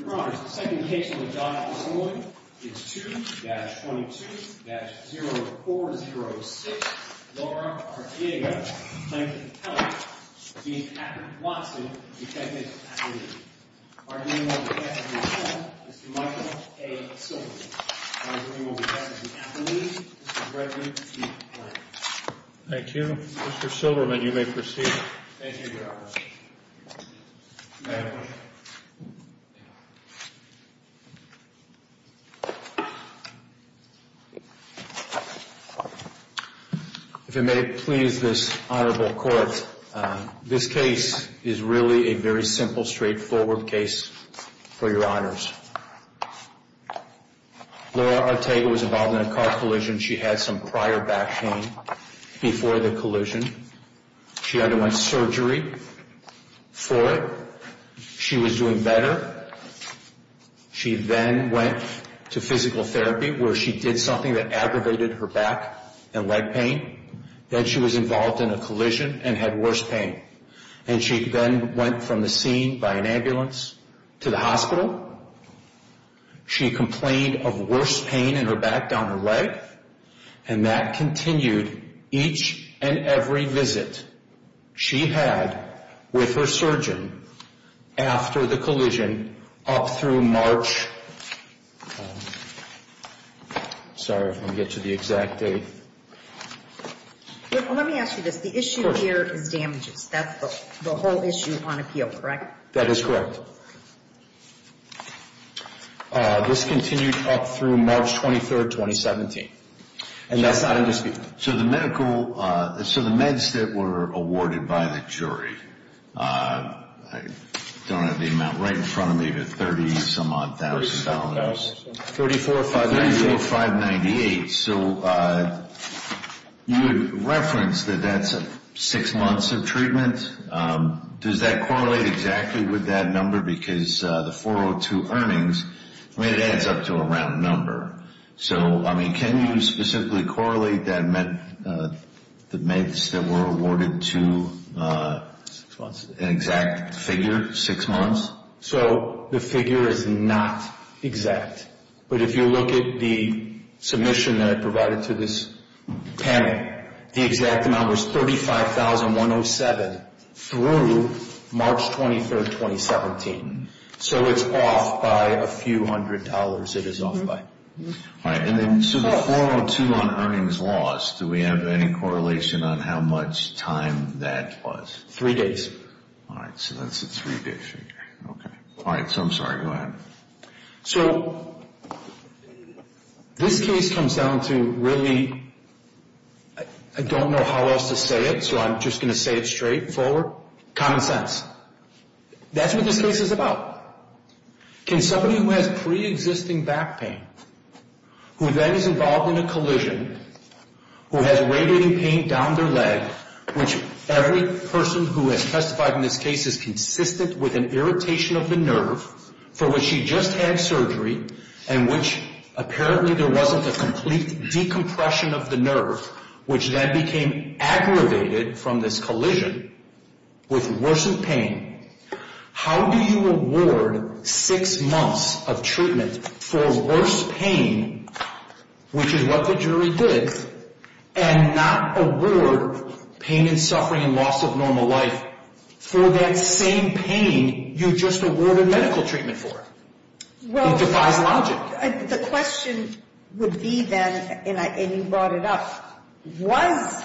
2-22-0406 Laura Arteaga, plaintiff's attorney, v. Patrick Watson, defendant's attorney. Argument will be passed as an appeal. Mr. Michael A. Silverman. Argument will be passed as an appeal. Mr. Brett D. Blank. Thank you. Mr. Silverman, you may proceed. Thank you, Your Honor. If it may please this honorable court, this case is really a very simple, straightforward case for Your Honors. Laura Arteaga was involved in a car collision. She had some prior back pain before the collision. She underwent surgery for it. She was doing better. She then went to physical therapy where she did something that aggravated her back and leg pain. Then she was involved in a collision and had worse pain. And she then went from the scene by an ambulance to the hospital. She complained of worse pain in her back, down her leg. And that continued each and every visit she had with her surgeon after the collision up through March. Sorry, let me get to the exact date. Let me ask you this. The issue here is damages. That's the whole issue on appeal, correct? That is correct. This continued up through March 23, 2017. So the meds that were awarded by the jury, I don't have the amount right in front of me, but $30,000. $34,598. So you referenced that that's six months of treatment. Does that correlate exactly with that number? Because the 402 earnings, I mean, it adds up to a round number. So, I mean, can you specifically correlate the meds that were awarded to an exact figure, six months? So the figure is not exact. But if you look at the submission that I provided to this panel, the exact amount was $35,107 through March 23, 2017. So it's off by a few hundred dollars, it is off by. All right, so the 402 on earnings loss, do we have any correlation on how much time that was? Three days. All right, so that's a three-day figure. All right, so I'm sorry, go ahead. So this case comes down to really, I don't know how else to say it, so I'm just going to say it straightforward. Common sense. That's what this case is about. Can somebody who has pre-existing back pain, who then is involved in a collision, who has radiating pain down their leg, which every person who has testified in this case is consistent with an irritation of the nerve, for which she just had surgery, and which apparently there wasn't a complete decompression of the nerve, which then became aggravated from this collision, with worsened pain, how do you award six months of treatment for worse pain, which is what the jury did, and not award pain and suffering and loss of normal life for that same pain you just awarded medical treatment for? It defies logic. Well, the question would be then, and you brought it up, was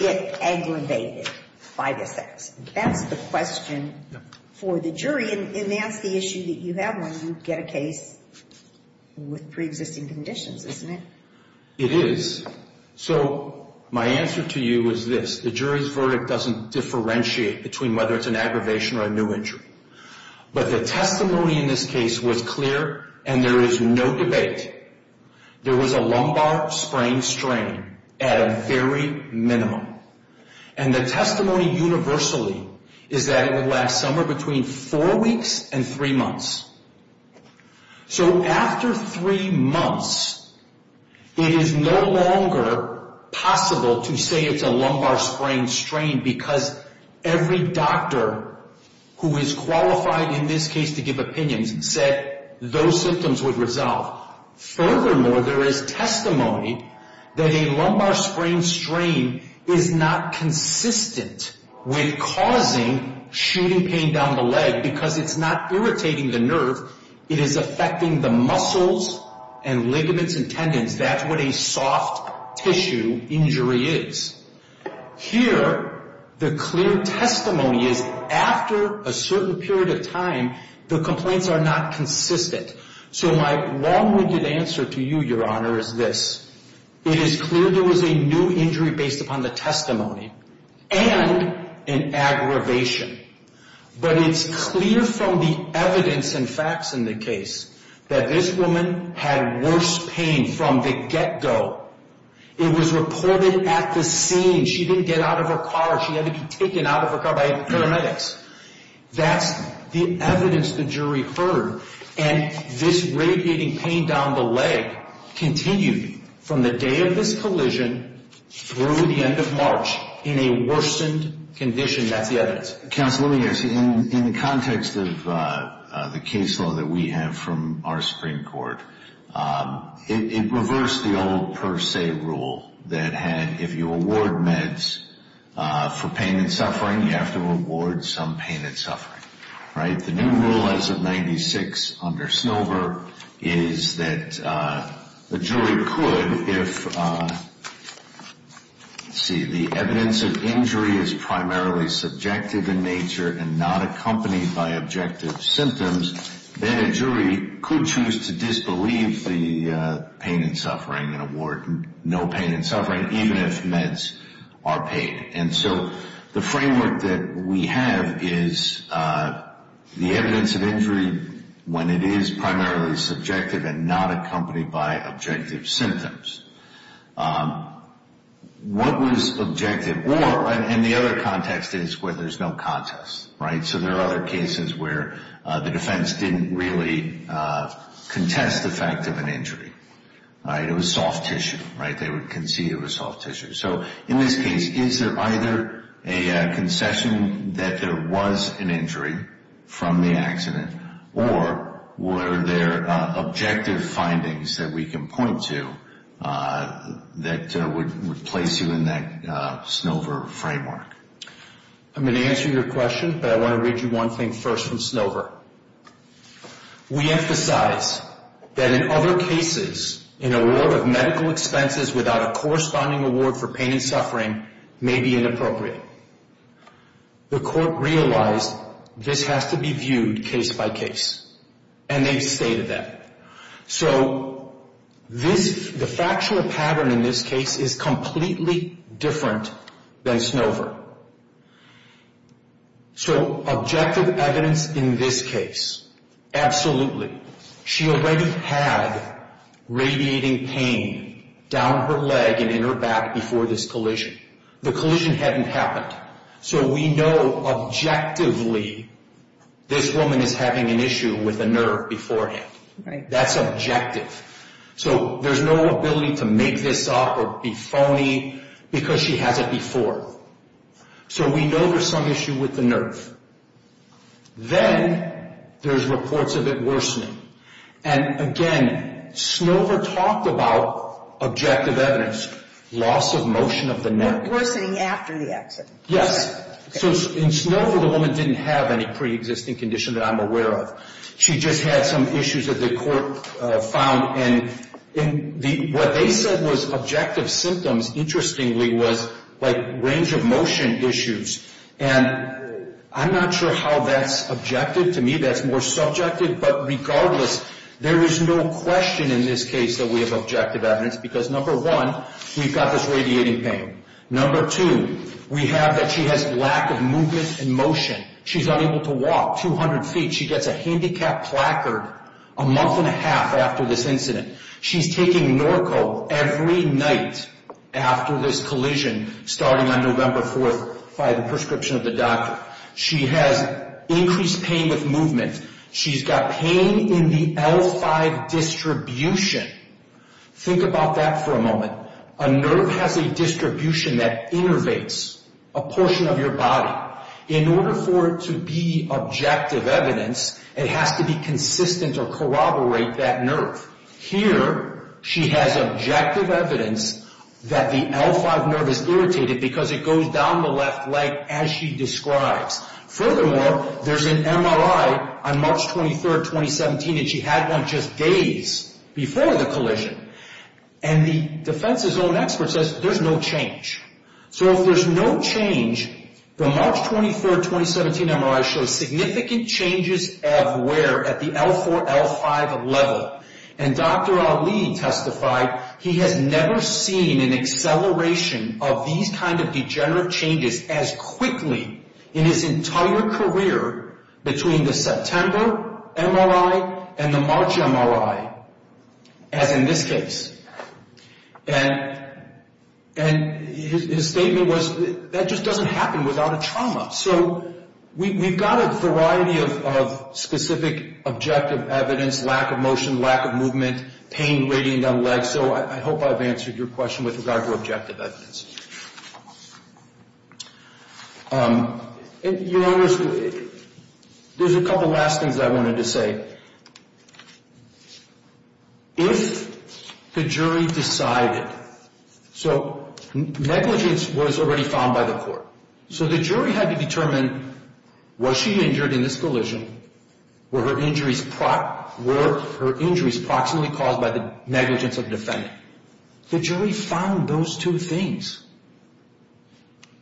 it aggravated by the sex? That's the question for the jury, and that's the issue that you have when you get a case with pre-existing conditions, isn't it? It is. So my answer to you is this. The jury's verdict doesn't differentiate between whether it's an aggravation or a new injury. But the testimony in this case was clear, and there is no debate. There was a lumbar sprain strain at a very minimum. And the testimony universally is that it would last somewhere between four weeks and three months. So after three months, it is no longer possible to say it's a lumbar sprain strain, because every doctor who is qualified in this case to give opinions said those symptoms would resolve. Furthermore, there is testimony that a lumbar sprain strain is not consistent with causing shooting pain down the leg, because it's not irritating the nerve, it is affecting the muscles and ligaments and tendons. That's what a soft tissue injury is. Here, the clear testimony is after a certain period of time, the complaints are not consistent. So my long-winded answer to you, Your Honor, is this. It is clear there was a new injury based upon the testimony and an aggravation. But it's clear from the evidence and facts in the case that this woman had worse pain from the get-go. It was reported at the scene. She didn't get out of her car. She had to be taken out of her car by paramedics. That's the evidence the jury heard. And this radiating pain down the leg continued from the day of this collision through the end of March in a worsened condition. That's the evidence. Counsel, let me ask you, in the context of the case law that we have from our Supreme Court, it reversed the old per se rule that had, if you award meds for pain and suffering, you have to award some pain and suffering, right? The new rule as of 1996 under Snover is that the jury could, if, let's see, the evidence of injury is primarily subjective in nature and not accompanied by objective symptoms, then a jury could choose to disbelieve the pain and suffering and award no pain and suffering, even if meds are paid. And so the framework that we have is the evidence of injury when it is primarily subjective and not accompanied by objective symptoms. What was objective or, and the other context is where there's no contest, right? So there are other cases where the defense didn't really contest the fact of an injury, right? It was soft tissue, right? They would concede it was soft tissue. So in this case, is there either a concession that there was an injury from the accident, or were there objective findings that we can point to that would place you in that Snover framework? I'm going to answer your question, but I want to read you one thing first from Snover. We emphasize that in other cases, an award of medical expenses without a corresponding award for pain and suffering may be inappropriate. The court realized this has to be viewed case by case, and they've stated that. So the factual pattern in this case is completely different than Snover. So objective evidence in this case, absolutely. She already had radiating pain down her leg and in her back before this collision. The collision hadn't happened. So we know objectively this woman is having an issue with a nerve beforehand. That's objective. So there's no ability to make this up or be phony because she has it before. So we know there's some issue with the nerve. Then there's reports of it worsening. And again, Snover talked about objective evidence. Loss of motion of the neck. Worsening after the accident. Yes. So in Snover, the woman didn't have any preexisting condition that I'm aware of. She just had some issues that the court found. What they said was objective symptoms, interestingly, was range of motion issues. And I'm not sure how that's objective. To me, that's more subjective. But regardless, there is no question in this case that we have objective evidence. Because, number one, we've got this radiating pain. Number two, we have that she has lack of movement and motion. She's unable to walk 200 feet. She gets a handicap placard a month and a half after this incident. She's taking Norco every night after this collision starting on November 4th by the prescription of the doctor. She has increased pain with movement. She's got pain in the L5 distribution. Think about that for a moment. A nerve has a distribution that innervates a portion of your body. In order for it to be objective evidence, it has to be consistent or corroborate that nerve. Here, she has objective evidence that the L5 nerve is irritated because it goes down the left leg as she describes. Furthermore, there's an MRI on March 23rd, 2017, and she had one just days before the collision. And the defense's own expert says there's no change. So if there's no change, the March 23rd, 2017 MRI shows significant changes of wear at the L4, L5 level. And Dr. Ali testified he has never seen an acceleration of these kind of degenerative changes as quickly in his entire career between the September MRI and the March MRI as in this case. And his statement was that just doesn't happen without a trauma. So we've got a variety of specific objective evidence, lack of motion, lack of movement, pain radiating down the legs. So I hope I've answered your question with regard to objective evidence. Your Honor, there's a couple of last things I wanted to say. If the jury decided, so negligence was already found by the court. So the jury had to determine was she injured in this collision? Were her injuries proximately caused by the negligence of the defendant? The jury found those two things.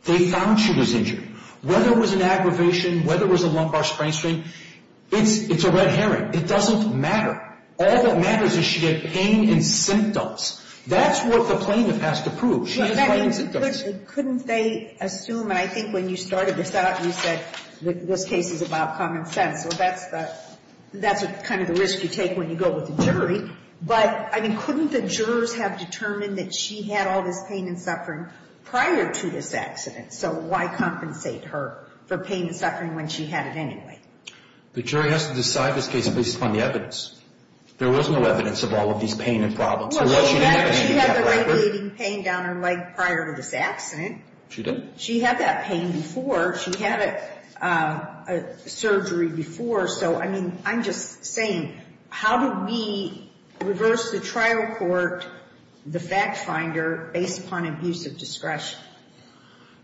They found she was injured. Whether it was an aggravation, whether it was a lumbar sprain strain, it's a red herring. It doesn't matter. All that matters is she had pain and symptoms. That's what the plaintiff has to prove. She has pain and symptoms. Couldn't they assume, and I think when you started this out, you said this case is about common sense. Well, that's kind of the risk you take when you go with the jury. But, I mean, couldn't the jurors have determined that she had all this pain and suffering prior to this accident? So why compensate her for pain and suffering when she had it anyway? The jury has to decide this case based upon the evidence. There was no evidence of all of these pain and problems. Well, she had the radiating pain down her leg prior to this accident. She did? She had that pain before. She had a surgery before. So, I mean, I'm just saying, how do we reverse the trial court, the fact finder, based upon abuse of discretion?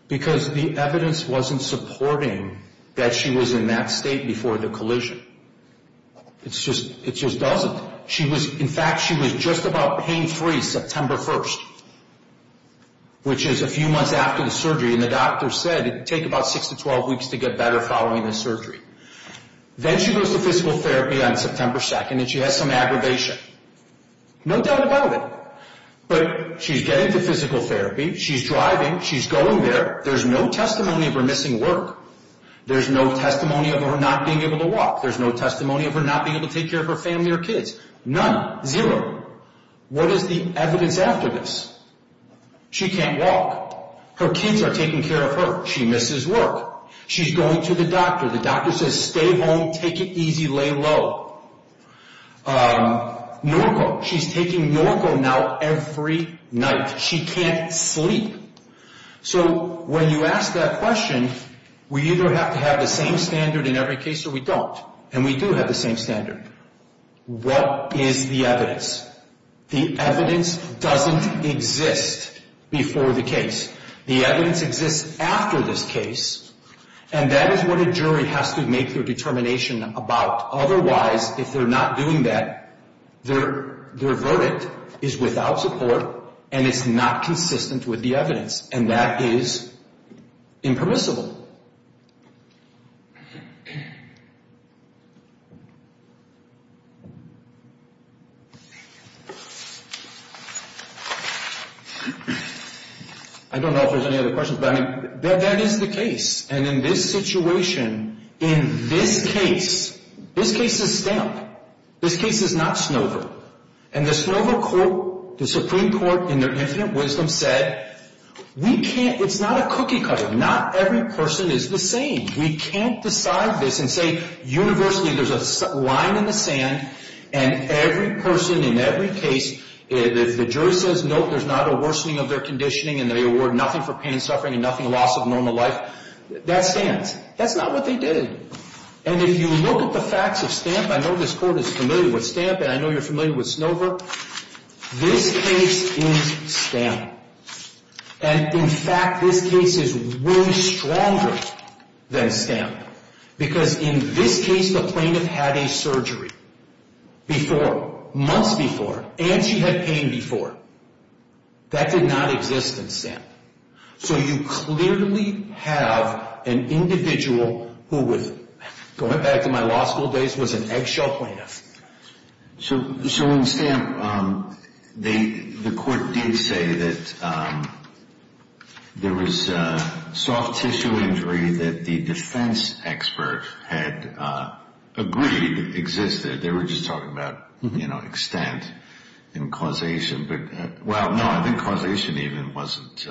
Because the evidence wasn't supporting that she was in that state before the collision. It just doesn't. In fact, she was just about pain-free September 1st, which is a few months after the surgery, and the doctor said it would take about 6 to 12 weeks to get better following the surgery. Then she goes to physical therapy on September 2nd, and she has some aggravation. No doubt about it. But she's getting to physical therapy. She's driving. She's going there. There's no testimony of her missing work. There's no testimony of her not being able to walk. There's no testimony of her not being able to take care of her family or kids. None. Zero. What is the evidence after this? She can't walk. Her kids are taking care of her. She misses work. She's going to the doctor. The doctor says, stay home, take it easy, lay low. Norco. She's taking Norco now every night. She can't sleep. So when you ask that question, we either have to have the same standard in every case or we don't. And we do have the same standard. What is the evidence? The evidence doesn't exist before the case. The evidence exists after this case. And that is what a jury has to make their determination about. Otherwise, if they're not doing that, their verdict is without support and it's not consistent with the evidence. And that is impermissible. I don't know if there's any other questions, but that is the case. And in this situation, in this case, this case is stamped. This case is not Snover. And the Snover court, the Supreme Court in their infinite wisdom said, we can't ‑‑ it's not a cookie cutter. Not every person is the same. We can't decide this and say universally there's a line in the sand and every person in every case, if the jury says, no, there's not a worsening of their conditioning and they award nothing for pain and suffering and nothing loss of normal life, that stands. That's not what they did. And if you look at the facts of stamp, I know this court is familiar with stamp and I know you're familiar with Snover. This case is stamped. And, in fact, this case is way stronger than stamped. Because in this case, the plaintiff had a surgery before, months before, and she had pain before. That did not exist in stamp. So you clearly have an individual who was, going back to my law school days, was an eggshell plaintiff. So in stamp, the court did say that there was soft tissue injury that the defense expert had agreed existed. They were just talking about, you know, extent in causation. But, well, no, I think causation even wasn't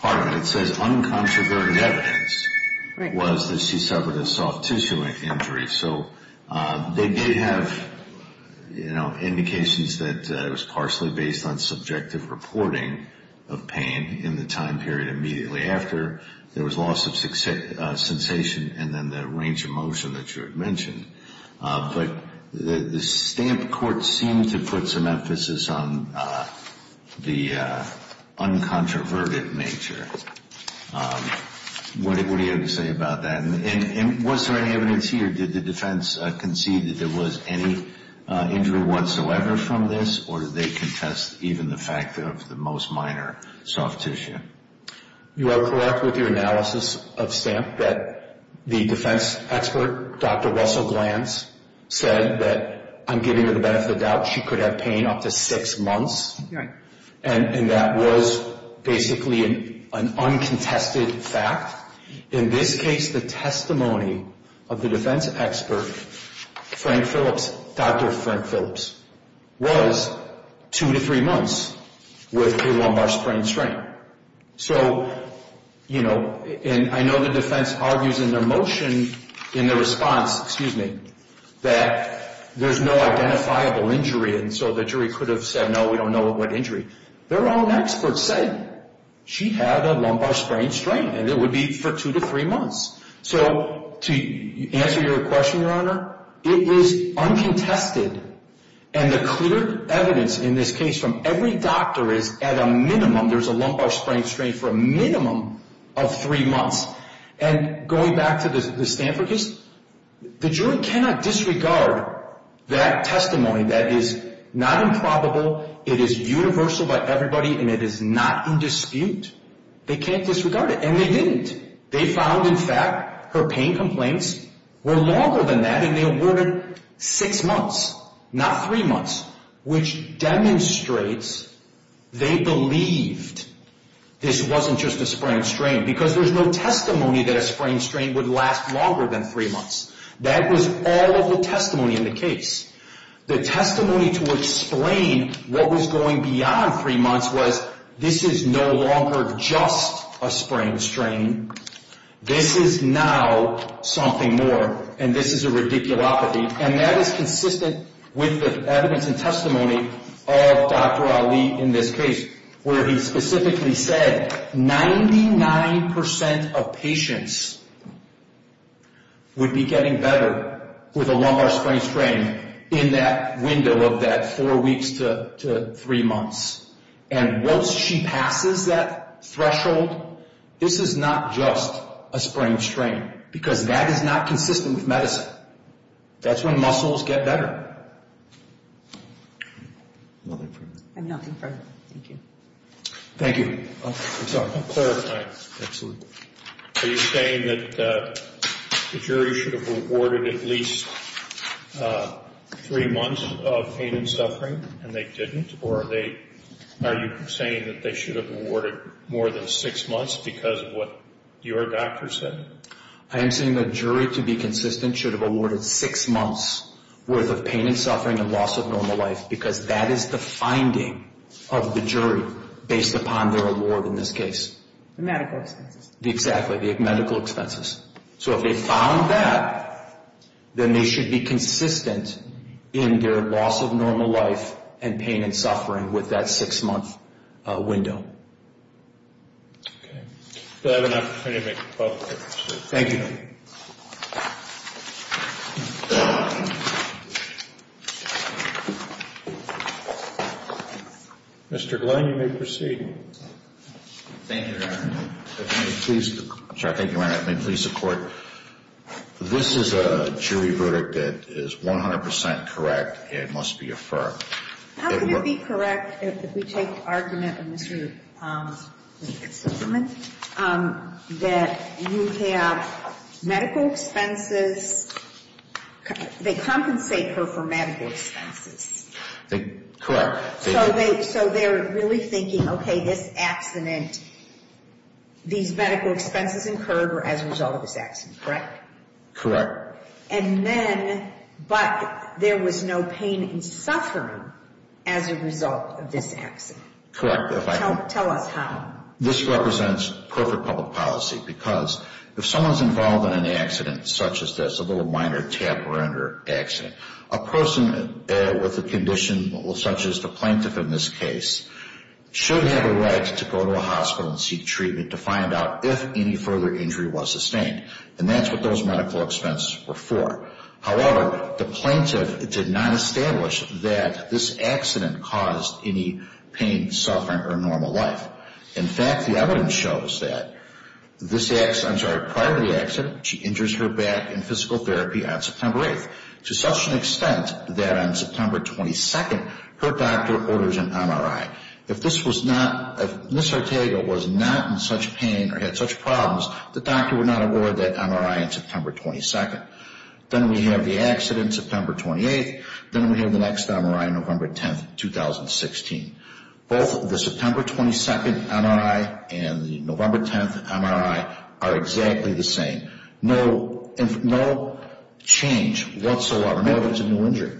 part of it. It says uncontroverted evidence was that she suffered a soft tissue injury. So they did have, you know, indications that it was partially based on subjective reporting of pain in the time period immediately after. There was loss of sensation and then the range of motion that you had mentioned. But the stamp court seemed to put some emphasis on the uncontroverted nature. What do you have to say about that? And was there any evidence here? Did the defense concede that there was any injury whatsoever from this? Or did they contest even the fact of the most minor soft tissue? You are correct with your analysis of stamp that the defense expert, Dr. Russell Glantz, said that I'm giving her the benefit of the doubt. She could have pain up to six months. And that was basically an uncontested fact. In this case, the testimony of the defense expert, Frank Phillips, Dr. Frank Phillips, was two to three months with a lumbar sprain strain. So, you know, and I know the defense argues in their motion, in their response, excuse me, that there's no identifiable injury. And so the jury could have said, no, we don't know what injury. Their own experts said she had a lumbar sprain strain and it would be for two to three months. So to answer your question, Your Honor, it is uncontested. And the clear evidence in this case from every doctor is at a minimum, there's a lumbar sprain strain for a minimum of three months. And going back to the Stanford case, the jury cannot disregard that testimony. That is not improbable. It is universal by everybody and it is not in dispute. They can't disregard it. And they didn't. They found, in fact, her pain complaints were longer than that and they awarded six months, not three months, which demonstrates they believed this wasn't just a sprain strain. Because there's no testimony that a sprain strain would last longer than three months. That was all of the testimony in the case. The testimony to explain what was going beyond three months was this is no longer just a sprain strain. This is now something more. And this is a ridiculopathy. And that is consistent with the evidence and testimony of Dr. Ali in this case, where he specifically said 99% of patients would be getting better with a lumbar sprain strain in that window of that four weeks to three months. And once she passes that threshold, this is not just a sprain strain because that is not consistent with medicine. That's when muscles get better. Nothing further. I have nothing further. Thank you. Thank you. I'm sorry. I'll clarify. Absolutely. Are you saying that the jury should have awarded at least three months of pain and suffering and they didn't? Or are you saying that they should have awarded more than six months because of what your doctor said? I am saying the jury, to be consistent, should have awarded six months' worth of pain and suffering and loss of normal life because that is the finding of the jury based upon their award in this case. The medical expenses. Exactly. The medical expenses. So if they found that, then they should be consistent in their loss of normal life and pain and suffering with that six-month window. Okay. Do I have an opportunity to make a public statement? Thank you. Mr. Glenn, you may proceed. Thank you, Your Honor. If I may, please. I'm sorry. Thank you, Your Honor. If I may please the Court. This is a jury verdict that is 100 percent correct. It must be affirmed. How can it be correct if we take the argument of Mr. Sussman that you have medical expenses? They compensate her for medical expenses. Correct. So they're really thinking, okay, this accident, these medical expenses incurred were as a result of this accident, correct? Correct. And then, but there was no pain and suffering as a result of this accident. Correct. Tell us how. This represents perfect public policy because if someone's involved in an accident such as this, a little minor tap-render accident, a person with a condition such as the plaintiff in this case should have a right to go to a hospital and seek treatment to find out if any further injury was sustained. And that's what those medical expenses were for. However, the plaintiff did not establish that this accident caused any pain, suffering, or normal life. In fact, the evidence shows that this accident, I'm sorry, prior to the accident, she injures her back in physical therapy on September 8th to such an extent that on September 22nd, her doctor orders an MRI. If this was not, if Ms. Ortega was not in such pain or had such problems, the doctor would not award that MRI on September 22nd. Then we have the accident, September 28th. Then we have the next MRI, November 10th, 2016. Both the September 22nd MRI and the November 10th MRI are exactly the same. No change whatsoever. No, there's a new injury.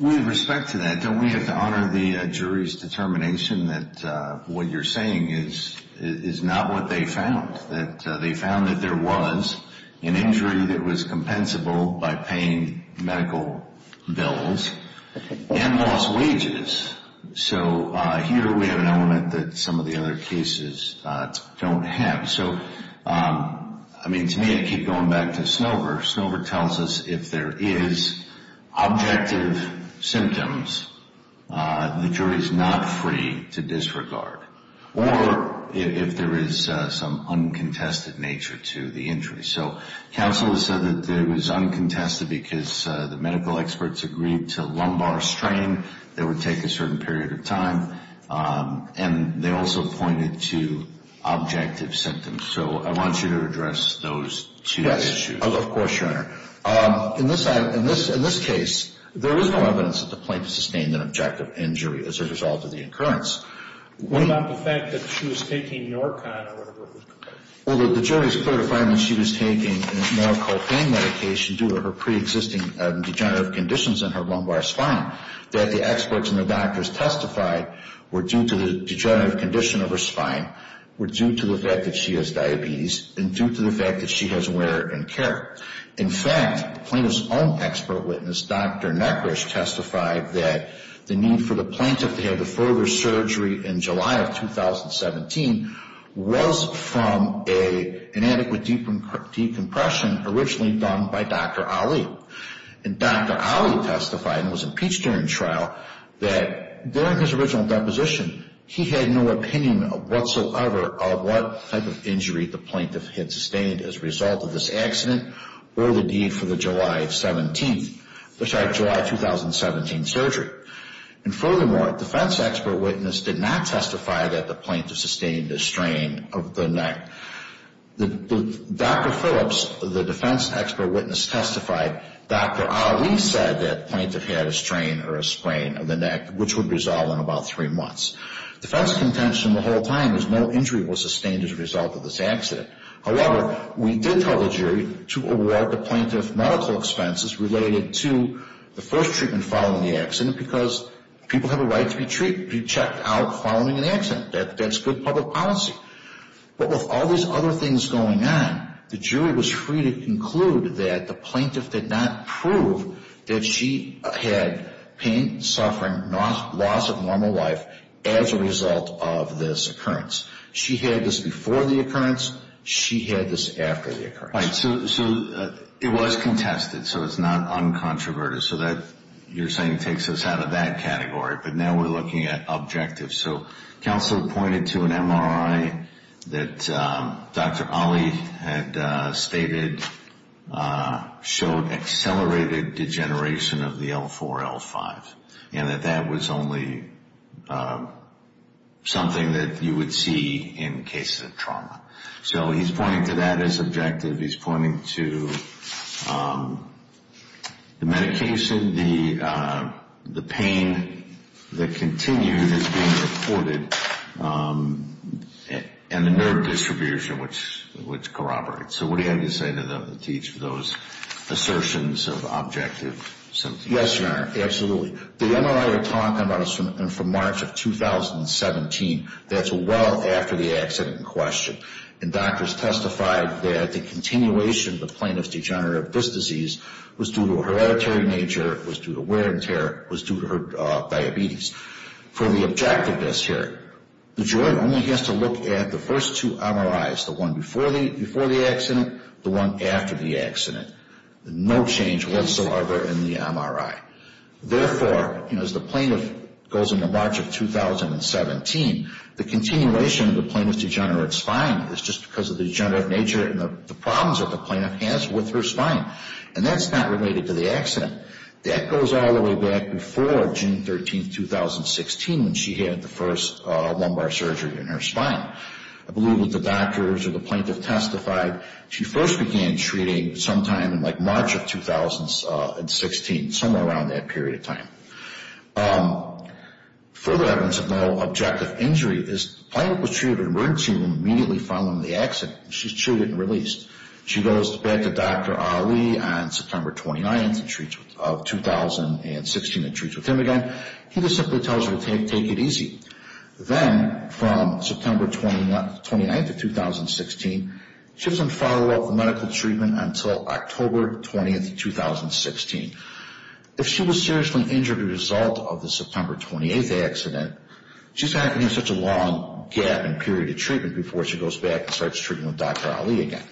With respect to that, don't we have to honor the jury's determination that what you're saying is not what they found, that they found that there was an injury that was compensable by paying medical bills and lost wages. So here we have an element that some of the other cases don't have. So, I mean, to me, I keep going back to Snover. Snover tells us if there is objective symptoms, the jury is not free to disregard, or if there is some uncontested nature to the injury. So counsel has said that it was uncontested because the medical experts agreed to lumbar strain that would take a certain period of time, and they also pointed to objective symptoms. So I want you to address those two issues. Yes, of course, Your Honor. In this case, there was no evidence at the point to sustain an objective injury as a result of the incurrence. What about the fact that she was taking Norcon or whatever it was called? Well, the jury is clear to find that she was taking a medical pain medication due to her preexisting degenerative conditions in her lumbar spine, that the experts and the doctors testified were due to the degenerative condition of her spine, were due to the fact that she has diabetes, and due to the fact that she has wear and tear. In fact, the plaintiff's own expert witness, Dr. Negrish, testified that the need for the plaintiff to have the further surgery in July of 2017 was from an inadequate decompression originally done by Dr. Ali. And Dr. Ali testified, and was impeached during the trial, that during his original deposition, he had no opinion whatsoever of what type of injury the plaintiff had sustained as a result of this accident or the need for the July 17th, sorry, July 2017 surgery. And furthermore, a defense expert witness did not testify that the plaintiff sustained a strain of the neck. Dr. Phillips, the defense expert witness testified, Dr. Ali said that the plaintiff had a strain or a sprain of the neck, which would resolve in about three months. Defense contention the whole time is no injury was sustained as a result of this accident. However, we did tell the jury to award the plaintiff medical expenses related to the first treatment following the accident, because people have a right to be checked out following an accident. That's good public policy. But with all these other things going on, the jury was free to conclude that the plaintiff did not prove that she had pain, suffering, loss of normal life as a result of this occurrence. She had this before the occurrence. She had this after the occurrence. Right. So it was contested, so it's not uncontroverted. So that, you're saying, takes us out of that category. But now we're looking at objectives. So counsel pointed to an MRI that Dr. Ali had stated showed accelerated degeneration of the L4, L5, and that that was only something that you would see in cases of trauma. So he's pointing to that as objective. He's pointing to the medication, the pain that continued as being reported, and the nerve distribution, which corroborates. So what do you have to say to those assertions of objective symptoms? Yes, Your Honor, absolutely. The MRI we're talking about is from March of 2017. That's well after the accident in question. And doctors testified that the continuation of the plaintiff's degeneration of this disease was due to her hereditary nature, was due to wear and tear, was due to her diabetes. For the objectiveness here, the jury only has to look at the first two MRIs, the one before the accident, the one after the accident. No change whatsoever in the MRI. Therefore, as the plaintiff goes into March of 2017, the continuation of the plaintiff's degenerative spine is just because of the degenerative nature and the problems that the plaintiff has with her spine. And that's not related to the accident. That goes all the way back before June 13, 2016, when she had the first lumbar surgery in her spine. I believe that the doctors or the plaintiff testified she first began treating sometime in like March of 2016, somewhere around that period of time. Further evidence of no objective injury is the plaintiff was treated in an emergency room immediately following the accident. She was treated and released. She goes back to Dr. Ali on September 29th of 2016 and treats with him again. He just simply tells her to take it easy. Then, from September 29th of 2016, she was in follow-up medical treatment until October 20th, 2016. If she was seriously injured as a result of the September 28th accident, she's having such a long gap in period of treatment before she goes back and starts treating with Dr. Ali again.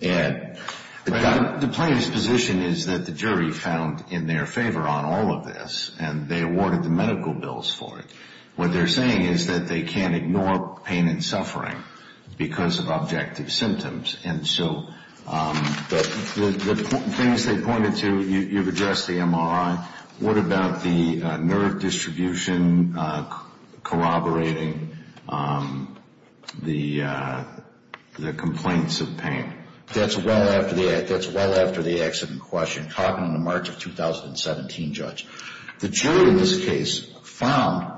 And the plaintiff's position is that the jury found in their favor on all of this, and they awarded the medical bills for it. What they're saying is that they can't ignore pain and suffering because of objective symptoms. And so the things they pointed to, you've addressed the MRI. What about the nerve distribution corroborating the complaints of pain? That's well after the accident question, caught in the March of 2017 judge. The jury in this case found,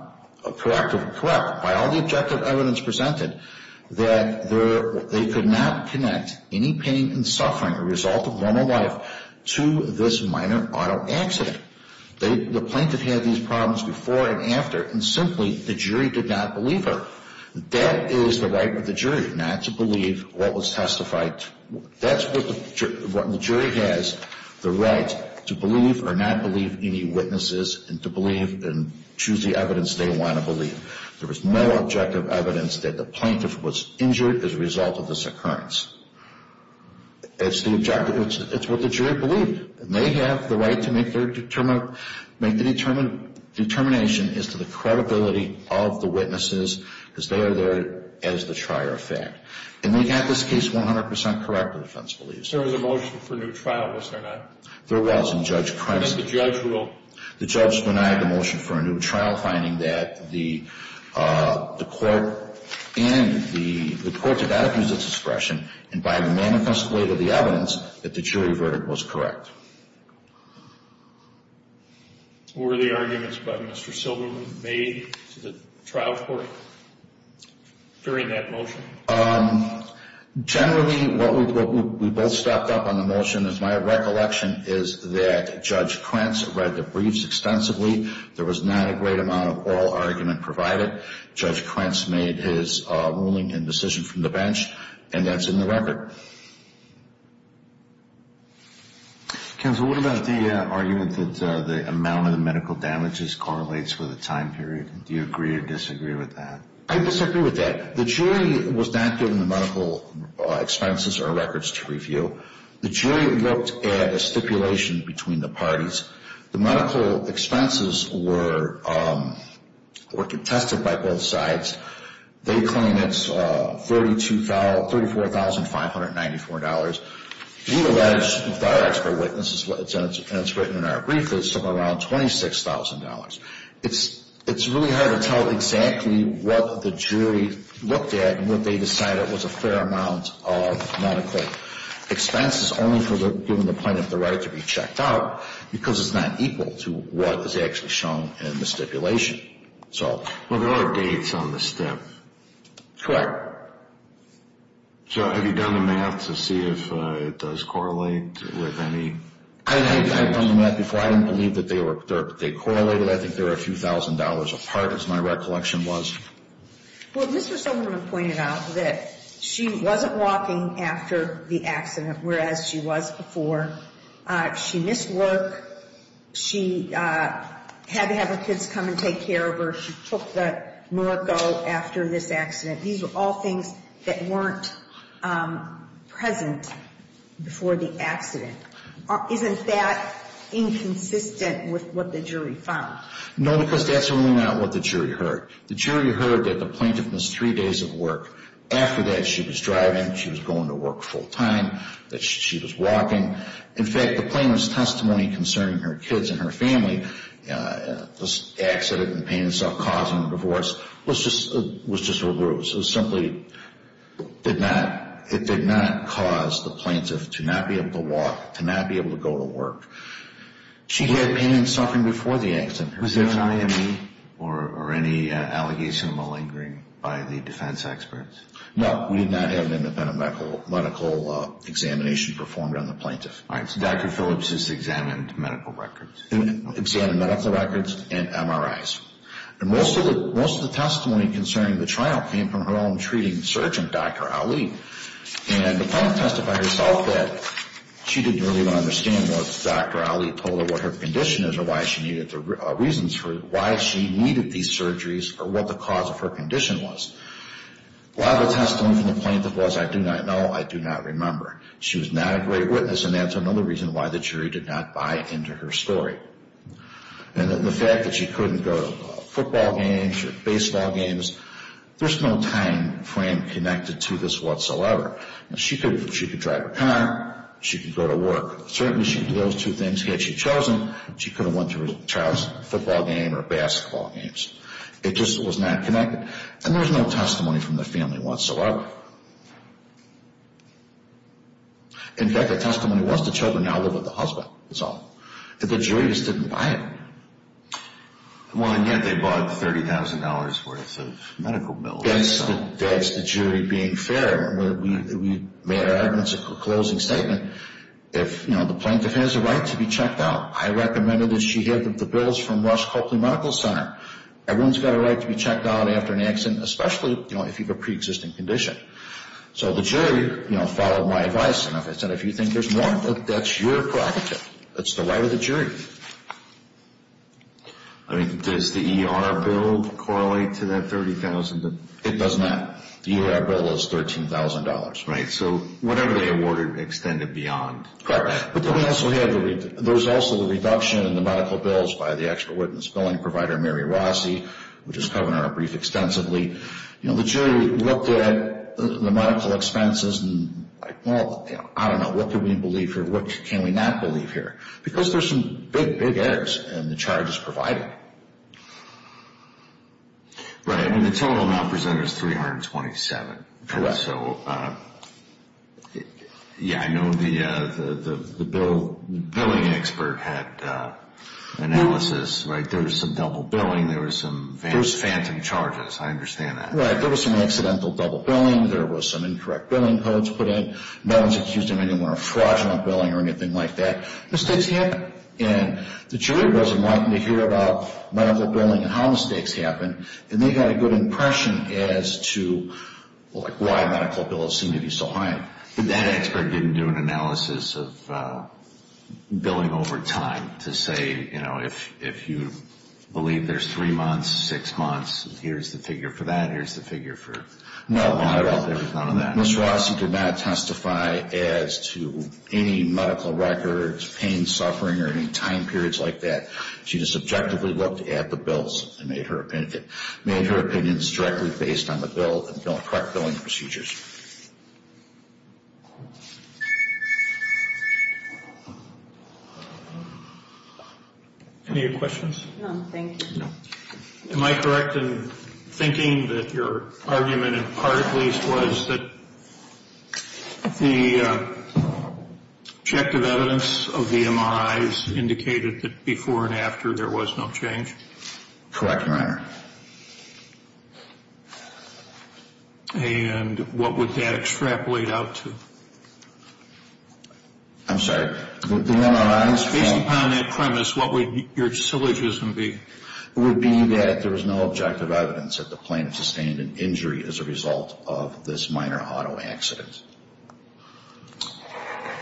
correct, by all the objective evidence presented, that they could not connect any pain and suffering, a result of normal life, to this minor auto accident. The plaintiff had these problems before and after, and simply the jury did not believe her. That is the right of the jury, not to believe what was testified. That's what the jury has, the right to believe or not believe any witnesses and to believe and choose the evidence they want to believe. There was no objective evidence that the plaintiff was injured as a result of this occurrence. It's the objective. It's what the jury believed. And they have the right to make their determination as to the credibility of the witnesses because they are there as the trier of fact. And they got this case 100 percent correct, the defense believes. There was a motion for a new trial, was there not? There was, and Judge Crenshaw... And did the judge rule? The judge denied the motion for a new trial, finding that the court did not use its discretion and by the manifest weight of the evidence that the jury verdict was correct. Were the arguments by Mr. Silberman made to the trial court during that motion? Generally, what we both stopped up on the motion is my recollection is that Judge Krentz read the briefs extensively. There was not a great amount of oral argument provided. Judge Krentz made his ruling and decision from the bench, and that's in the record. Counsel, what about the argument that the amount of the medical damages correlates with the time period? Do you agree or disagree with that? I disagree with that. The jury was not given the medical expenses or records to review. The jury looked at a stipulation between the parties. The medical expenses were contested by both sides. They claim it's $34,594. We allege, with our expert witnesses, and it's written in our brief, that it's somewhere around $26,000. It's really hard to tell exactly what the jury looked at and what they decided was a fair amount of medical expenses. It's only given the plaintiff the right to be checked out because it's not equal to what is actually shown in the stipulation. Well, there are dates on the stip. Correct. So have you done the math to see if it does correlate with any? I've done the math before. I didn't believe that they correlated. I think they were a few thousand dollars apart, as my recollection was. Well, Mr. Silverman pointed out that she wasn't walking after the accident, whereas she was before. She missed work. She had to have her kids come and take care of her. She took the morgue go after this accident. These were all things that weren't present before the accident. Isn't that inconsistent with what the jury found? No, because that's really not what the jury heard. The jury heard that the plaintiff missed three days of work. After that, she was driving. She was going to work full-time. She was walking. In fact, the plaintiff's testimony concerning her kids and her family, this accident and the pain itself causing the divorce, was just a ruse. It simply did not cause the plaintiff to not be able to walk, to not be able to go to work. She had pain and suffering before the accident. Was there an IME or any allegation of malingering by the defense experts? No. We did not have an independent medical examination performed on the plaintiff. All right. So Dr. Phillips has examined medical records. Examined medical records and MRIs. And most of the testimony concerning the trial came from her own treating surgeon, Dr. Ali. And the plaintiff testified herself that she didn't really understand what Dr. Ali told her what her condition is or why she needed these surgeries or what the cause of her condition was. A lot of the testimony from the plaintiff was, I do not know, I do not remember. She was not a great witness, and that's another reason why the jury did not buy into her story. And the fact that she couldn't go to football games or baseball games, there's no time frame connected to this whatsoever. She could drive a car. She could go to work. Certainly, those two things had she chosen, she could have went to a child's football game or basketball games. It just was not connected. And there was no testimony from the family whatsoever. In fact, the testimony was the children now live with the husband. That's all. But the jury just didn't buy it. Well, and yet they bought $30,000 worth of medical bills. That's the jury being fair. We made our evidence of a closing statement. If the plaintiff has a right to be checked out, I recommended that she get the bills from Rush Coakley Medical Center. Everyone's got a right to be checked out after an accident, especially if you have a preexisting condition. So the jury followed my advice. And as I said, if you think there's more, that's your property. That's the right of the jury. I mean, does the ER bill correlate to that $30,000? It does not. The ER bill is $13,000. Right. So whatever they awarded extended beyond. Correct. But then we also had the reduction in the medical bills by the expert witness billing provider, Mary Rossi, which is covered in our brief extensively. The jury looked at the medical expenses and, well, I don't know. What can we believe here? What can we not believe here? Because there's some big, big errors in the charges provided. Right. I mean, the total amount presented is $327. Correct. So, yeah, I know the billing expert had analysis, right? There was some double billing. There was some phantom charges. I understand that. Right. There was some accidental double billing. There was some incorrect billing codes put in. No one's accused of any fraudulent billing or anything like that. Mistakes happen. And the jury was enlightened to hear about medical billing and how mistakes happen, and they got a good impression as to, like, why medical bills seem to be so high. If you believe there's three months, six months, here's the figure for that, here's the figure for none at all. There was none of that. Ms. Rossi did not testify as to any medical records, pain, suffering, or any time periods like that. She just objectively looked at the bills and made her opinions directly based on the bill and correct billing procedures. Any questions? No, thank you. No. Am I correct in thinking that your argument, in part at least, was that the objective evidence of the MRIs indicated that before and after there was no change? Correct, Your Honor. And what would that extrapolate out to? I'm sorry. Based upon that premise, what would your syllogism be? It would be that there was no objective evidence that the plaintiff sustained an injury as a result of this minor auto accident.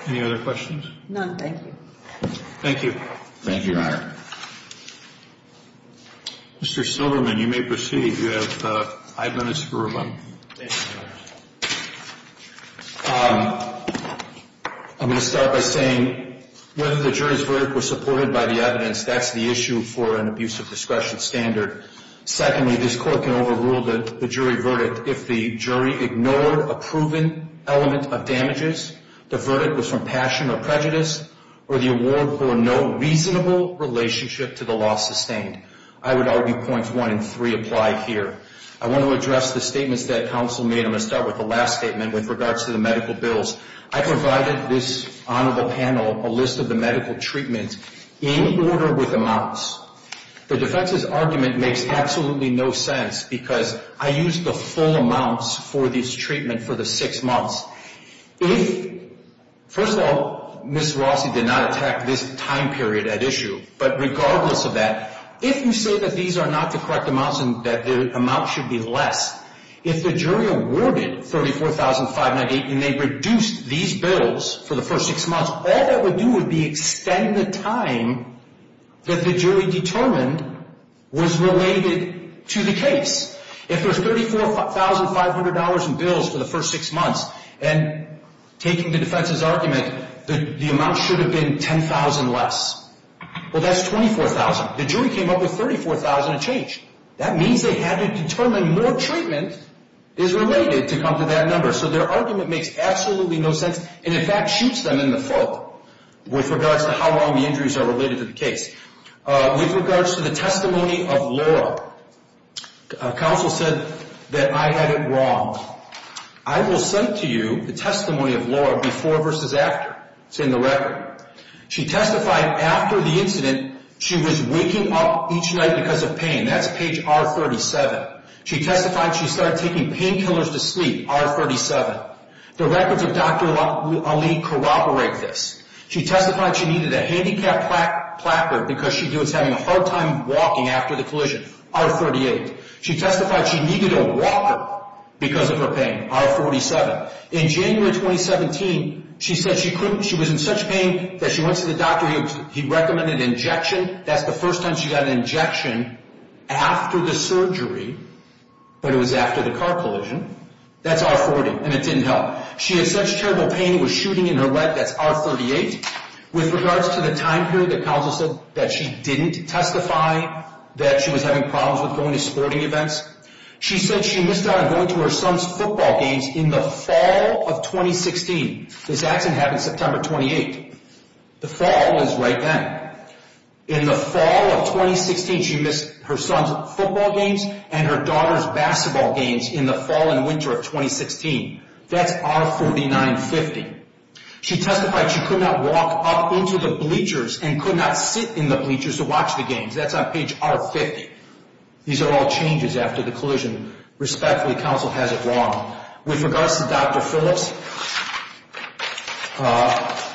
Any other questions? None. Thank you. Thank you. Thank you, Your Honor. Mr. Silverman, you may proceed. You have five minutes for rebuttal. I'm going to start by saying whether the jury's verdict was supported by the evidence, that's the issue for an abuse of discretion standard. Secondly, this Court can overrule the jury verdict if the jury ignored a proven element of damages, the verdict was from passion or prejudice, or the award bore no reasonable relationship to the loss sustained. I would argue points one and three apply here. I want to address the statements that counsel made. I'm going to start with the last statement with regards to the medical bills. I provided this honorable panel a list of the medical treatments in order with amounts. The defense's argument makes absolutely no sense because I used the full amounts for this treatment for the six months. If, first of all, Ms. Rossi did not attack this time period at issue, but regardless of that, if you say that these are not the correct amounts and that the amounts should be less, if the jury awarded $34,598 and they reduced these bills for the first six months, all that would do would be extend the time that the jury determined was related to the case. If there's $34,500 in bills for the first six months, and taking the defense's argument that the amount should have been $10,000 less, well, that's $24,000. The jury came up with $34,000 a change. That means they had to determine more treatment is related to come to that number. So their argument makes absolutely no sense and in fact shoots them in the foot with regards to how long the injuries are related to the case. With regards to the testimony of Laura, counsel said that I had it wrong. I will send to you the testimony of Laura before versus after. It's in the record. She testified after the incident she was waking up each night because of pain. That's page R37. She testified she started taking painkillers to sleep, R37. The records of Dr. Ali corroborate this. She testified she needed a handicap placard because she was having a hard time walking after the collision, R38. She testified she needed a walker because of her pain, R47. In January 2017, she said she was in such pain that she went to the doctor. He recommended an injection. That's the first time she got an injection after the surgery, but it was after the car collision. That's R40, and it didn't help. She had such terrible pain it was shooting in her leg. That's R38. With regards to the time period that counsel said that she didn't testify that she was having problems with going to sporting events, she said she missed out on going to her son's football games in the fall of 2016. This accident happened September 28. The fall was right then. In the fall of 2016, she missed her son's football games and her daughter's basketball games in the fall and winter of 2016. That's R49.50. She testified she could not walk up into the bleachers and could not sit in the bleachers to watch the games. That's on page R50. These are all changes after the collision. Respectfully, counsel has it wrong. With regards to Dr. Phillips,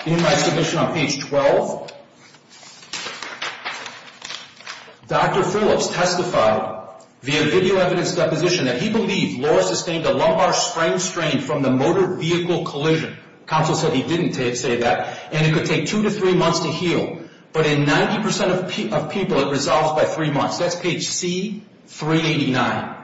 in my submission on page 12, Dr. Phillips testified via video evidence deposition that he believed Laura sustained a lumbar spring strain from the motor vehicle collision. Counsel said he didn't say that. It could take two to three months to heal, but in 90% of people, it resolves by three months. That's page C389.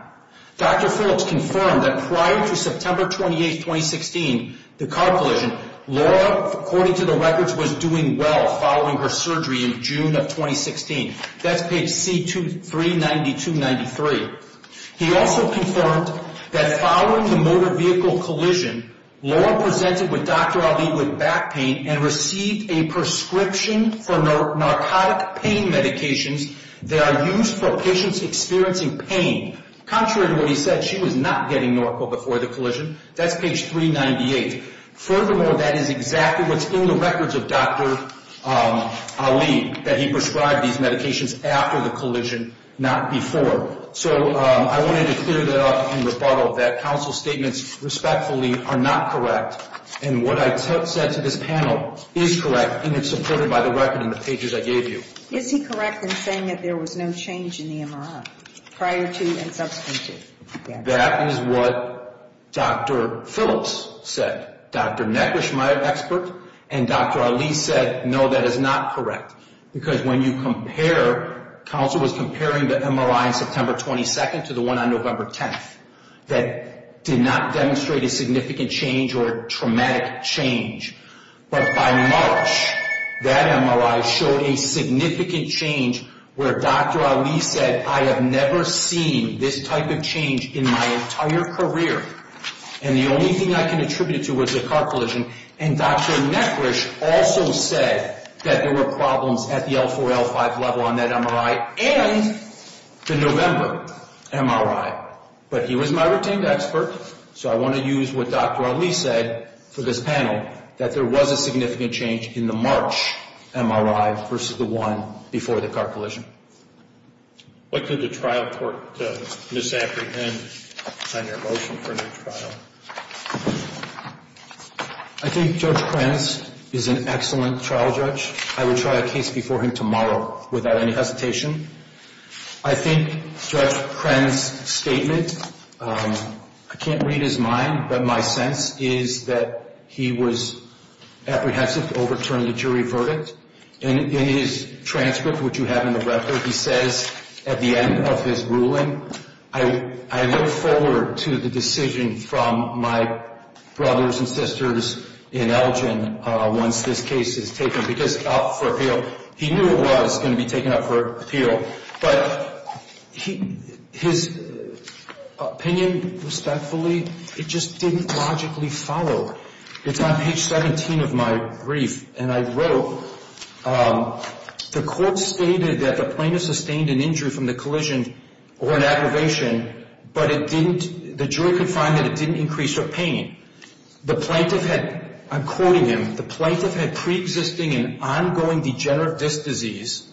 Dr. Phillips confirmed that prior to September 28, 2016, the car collision, Laura, according to the records, was doing well following her surgery in June of 2016. That's page C392.93. He also confirmed that following the motor vehicle collision, Laura presented with Dr. Ali with back pain and received a prescription for narcotic pain medications that are used for patients experiencing pain. Contrary to what he said, she was not getting narco before the collision. That's page 398. Furthermore, that is exactly what's in the records of Dr. Ali, that he prescribed these medications after the collision, not before. So I wanted to clear that up in rebuttal, that counsel's statements, respectfully, are not correct. And what I said to this panel is correct, and it's supported by the record in the pages I gave you. Is he correct in saying that there was no change in the MRI prior to and subsequent to? That is what Dr. Phillips said. Dr. Negrish, my expert, and Dr. Ali said, no, that is not correct. Because when you compare, counsel was comparing the MRI on September 22nd to the one on November 10th, that did not demonstrate a significant change or a traumatic change. But by March, that MRI showed a significant change where Dr. Ali said, I have never seen this type of change in my entire career. And the only thing I can attribute it to was a car collision. And Dr. Negrish also said that there were problems at the L4, L5 level on that MRI and the November MRI. But he was my retained expert, so I want to use what Dr. Ali said for this panel, that there was a significant change in the March MRI versus the one before the car collision. What could the trial court misapprehend on your motion for a new trial? I think Judge Krenz is an excellent trial judge. I would try a case before him tomorrow without any hesitation. I think Judge Krenz's statement, I can't read his mind, but my sense is that he was apprehensive to overturn the jury verdict. In his transcript, which you have in the record, he says at the end of his ruling, I look forward to the decision from my brothers and sisters in Elgin once this case is taken. He knew it was going to be taken up for appeal, but his opinion, respectfully, it just didn't logically follow. It's on page 17 of my brief, and I wrote, the court stated that the plaintiff sustained an injury from the collision or an aggravation, but the jury could find that it didn't increase her pain. The plaintiff had, I'm quoting him, the plaintiff had preexisting and ongoing degenerative disc disease,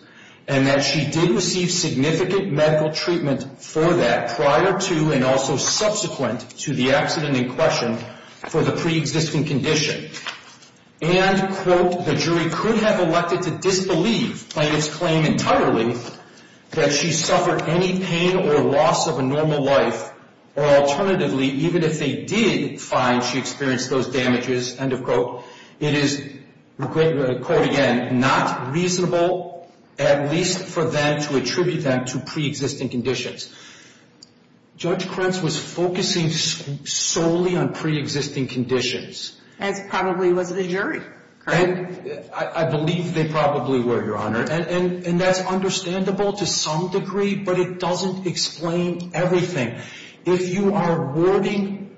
and that she did receive significant medical treatment for that prior to and also subsequent to the accident in question for the preexisting condition. And, quote, the jury could have elected to disbelieve plaintiff's claim entirely that she suffered any pain or loss of a normal life, or alternatively, even if they did find she experienced those damages, end of quote, it is, quote again, not reasonable at least for them to attribute that to preexisting conditions. Judge Krentz was focusing solely on preexisting conditions. As probably was the jury, correct? I believe they probably were, Your Honor, and that's understandable to some degree, but it doesn't explain everything. If you are awarding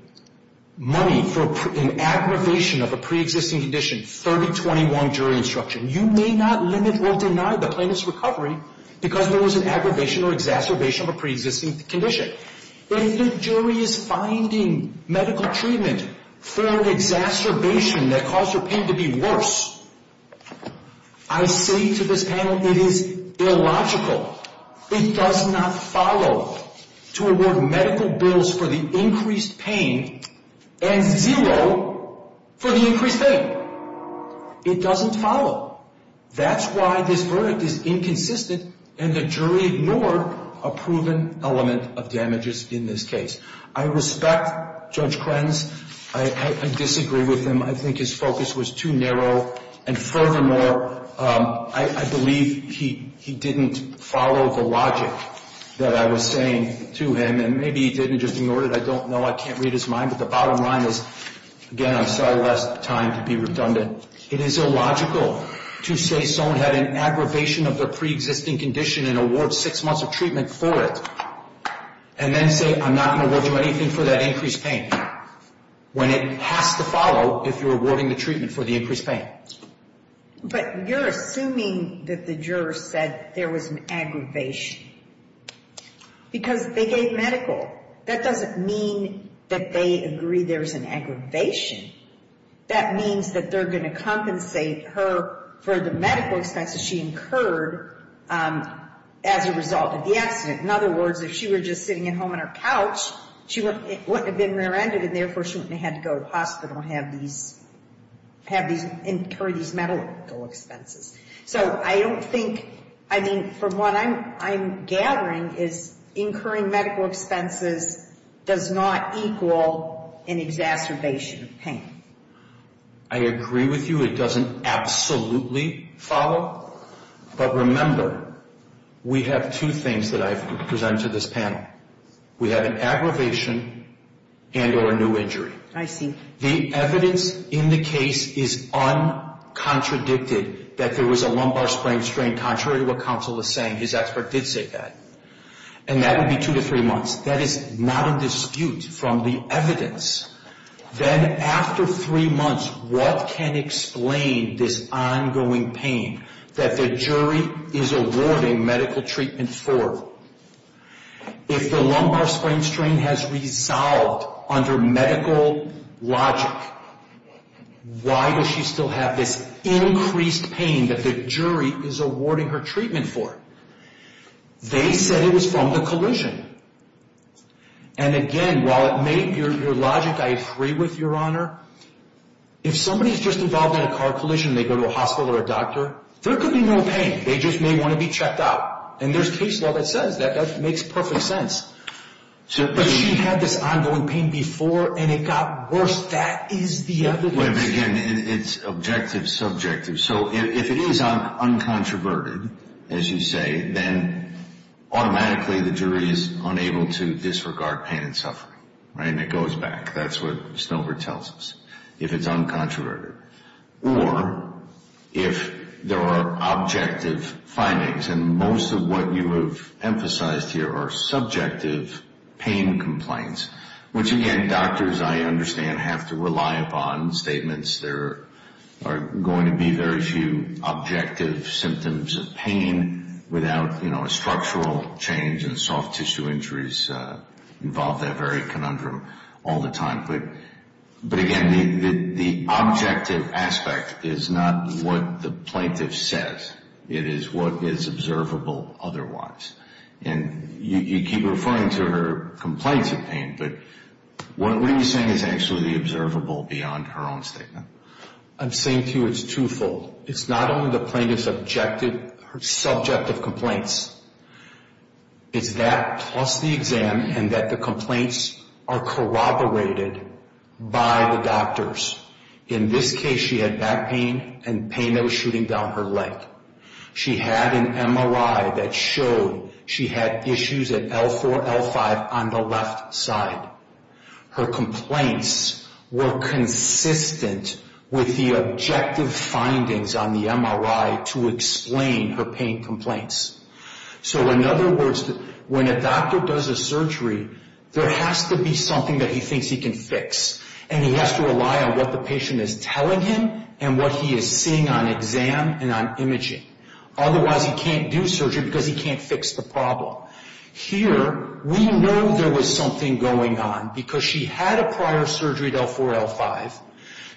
money for an aggravation of a preexisting condition, 3021 jury instruction, you may not limit or deny the plaintiff's recovery because there was an aggravation or exacerbation of a preexisting condition. If the jury is finding medical treatment for an exacerbation that caused her pain to be worse, I say to this panel it is illogical. It does not follow to award medical bills for the increased pain and zero for the increased pain. It doesn't follow. That's why this verdict is inconsistent, and the jury ignored a proven element of damages in this case. I respect Judge Krentz. I disagree with him. I think his focus was too narrow, and furthermore, I believe he didn't follow the logic that I was saying to him, and maybe he didn't just ignore it. I don't know. I can't read his mind, but the bottom line is, again, I'm sorry I lost time to be redundant. It is illogical to say someone had an aggravation of their preexisting condition and award six months of treatment for it and then say I'm not going to award you anything for that increased pain. When it has to follow if you're awarding the treatment for the increased pain. But you're assuming that the jurors said there was an aggravation because they gave medical. That doesn't mean that they agree there was an aggravation. That means that they're going to compensate her for the medical expenses she incurred as a result of the accident. In other words, if she were just sitting at home on her couch, she wouldn't have been rear-ended, and therefore she wouldn't have had to go to the hospital and incur these medical expenses. So I don't think, I mean, from what I'm gathering is incurring medical expenses does not equal an exacerbation of pain. I agree with you. It doesn't absolutely follow. But remember, we have two things that I've presented to this panel. We have an aggravation and or a new injury. I see. The evidence in the case is un-contradicted that there was a lumbar spring strain contrary to what counsel is saying. His expert did say that. And that would be two to three months. That is not a dispute from the evidence. Then after three months, what can explain this ongoing pain that the jury is awarding medical treatment for? If the lumbar spring strain has resolved under medical logic, why does she still have this increased pain that the jury is awarding her treatment for? They said it was from the collision. And again, while it may, your logic I agree with, Your Honor, if somebody is just involved in a car collision and they go to a hospital or a doctor, there could be no pain. They just may want to be checked out. And there's case law that says that. That makes perfect sense. But she had this ongoing pain before and it got worse. That is the evidence. Wait a minute again. It's objective, subjective. So if it is uncontroverted, as you say, then automatically the jury is unable to disregard pain and suffering. And it goes back. That's what Stover tells us, if it's uncontroverted. Or if there are objective findings, and most of what you have emphasized here are subjective pain complaints, which, again, doctors, I understand, have to rely upon statements. There are going to be very few objective symptoms of pain without, you know, a structural change and soft tissue injuries involve that very conundrum all the time. But again, the objective aspect is not what the plaintiff says. It is what is observable otherwise. And you keep referring to her complaints of pain, but what are you saying is actually observable beyond her own statement? I'm saying to you it's twofold. It's not only the plaintiff's subjective complaints. It's that plus the exam and that the complaints are corroborated by the doctors. In this case, she had back pain and pain that was shooting down her leg. She had an MRI that showed she had issues at L4, L5 on the left side. Her complaints were consistent with the objective findings on the MRI to explain her pain complaints. So, in other words, when a doctor does a surgery, there has to be something that he thinks he can fix. And he has to rely on what the patient is telling him and what he is seeing on exam and on imaging. Otherwise, he can't do surgery because he can't fix the problem. Here, we know there was something going on because she had a prior surgery at L4, L5.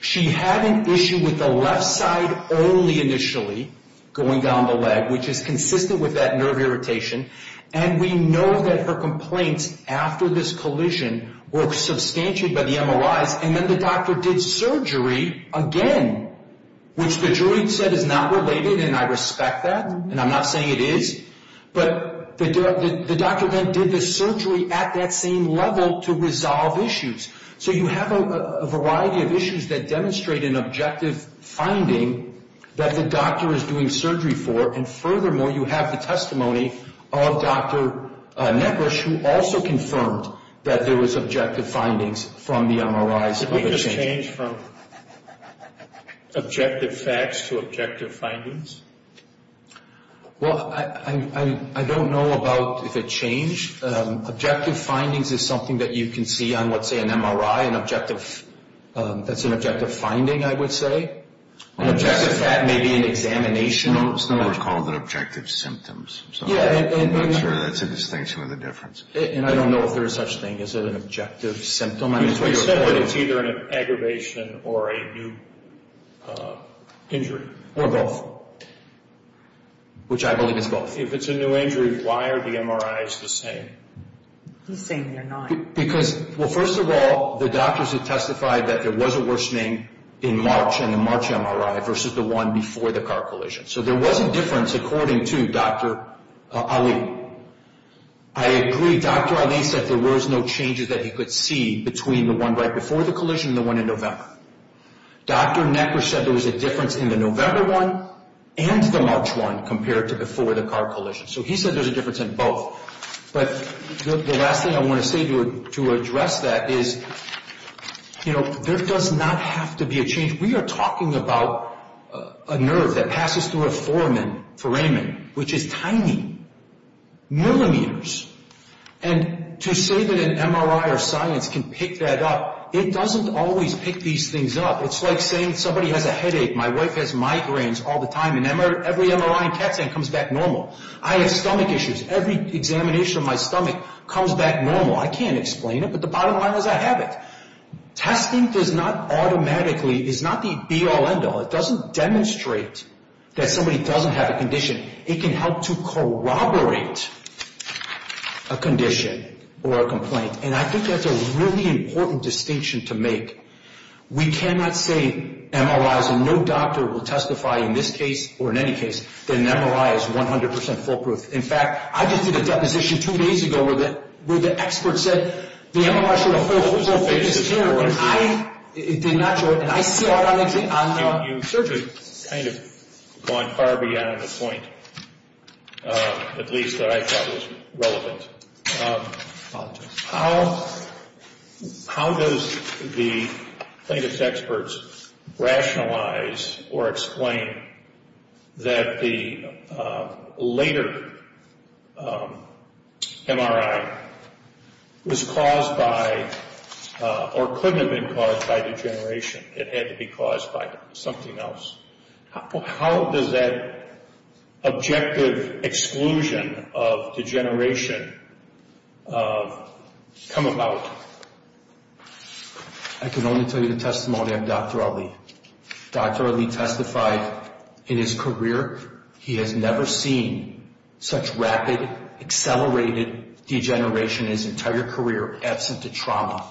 She had an issue with the left side only initially going down the leg, which is consistent with that nerve irritation. And we know that her complaints after this collision were substantiated by the MRIs. And then the doctor did surgery again, which the jury said is not related. And I respect that. And I'm not saying it is. But the doctor then did the surgery at that same level to resolve issues. So you have a variety of issues that demonstrate an objective finding that the doctor is doing surgery for. And furthermore, you have the testimony of Dr. Negrish, who also confirmed that there was objective findings from the MRIs. Did we just change from objective facts to objective findings? Well, I don't know about if it changed. Objective findings is something that you can see on, let's say, an MRI. That's an objective finding, I would say. An objective fact may be an examination. It's not called an objective symptom. I'm not sure that's a distinction or the difference. And I don't know if there is such a thing as an objective symptom. You said that it's either an aggravation or a new injury. Or both, which I believe is both. If it's a new injury, why are the MRIs the same? He's saying they're not. Well, first of all, the doctors have testified that there was a worsening in March in the March MRI versus the one before the car collision. So there was a difference according to Dr. Ali. I agree. Dr. Ali said there was no changes that he could see between the one right before the collision and the one in November. Dr. Negrish said there was a difference in the November one and the March one compared to before the car collision. So he said there's a difference in both. But the last thing I want to say to address that is, you know, there does not have to be a change. We are talking about a nerve that passes through a foramen, which is tiny, millimeters. And to say that an MRI or science can pick that up, it doesn't always pick these things up. It's like saying somebody has a headache, my wife has migraines all the time, and every MRI and CAT scan comes back normal. I have stomach issues. Every examination of my stomach comes back normal. I can't explain it, but the bottom line is I have it. Testing does not automatically, is not the be-all, end-all. It doesn't demonstrate that somebody doesn't have a condition. It can help to corroborate a condition or a complaint. And I think that's a really important distinction to make. We cannot say MRIs and no doctor will testify in this case or in any case that an MRI is 100 percent foolproof. In fact, I just did a deposition two days ago where the expert said the MRI showed a foolproof and I did not show it, and I saw it on the You've certainly kind of gone far beyond the point, at least that I thought was relevant. I apologize. How does the plaintiff's experts rationalize or explain that the later MRI was caused by or couldn't have been caused by degeneration. It had to be caused by something else. How does that objective exclusion of degeneration come about? I can only tell you the testimony of Dr. Ali. Dr. Ali testified in his career he has never seen such rapid, accelerated degeneration in his entire career absent of trauma.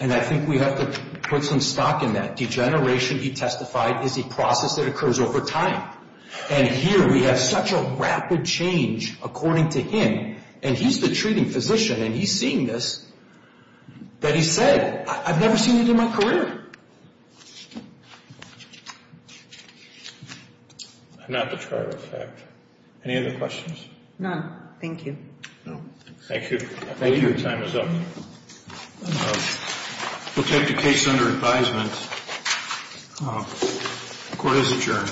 And I think we have to put some stock in that. The degeneration he testified is a process that occurs over time. And here we have such a rapid change according to him, and he's the treating physician and he's seeing this, that he said, I've never seen it in my career. I'm not the trial effect. Any other questions? None. Thank you. Thank you. I think your time is up. We'll take the case under advisement. Court is adjourned.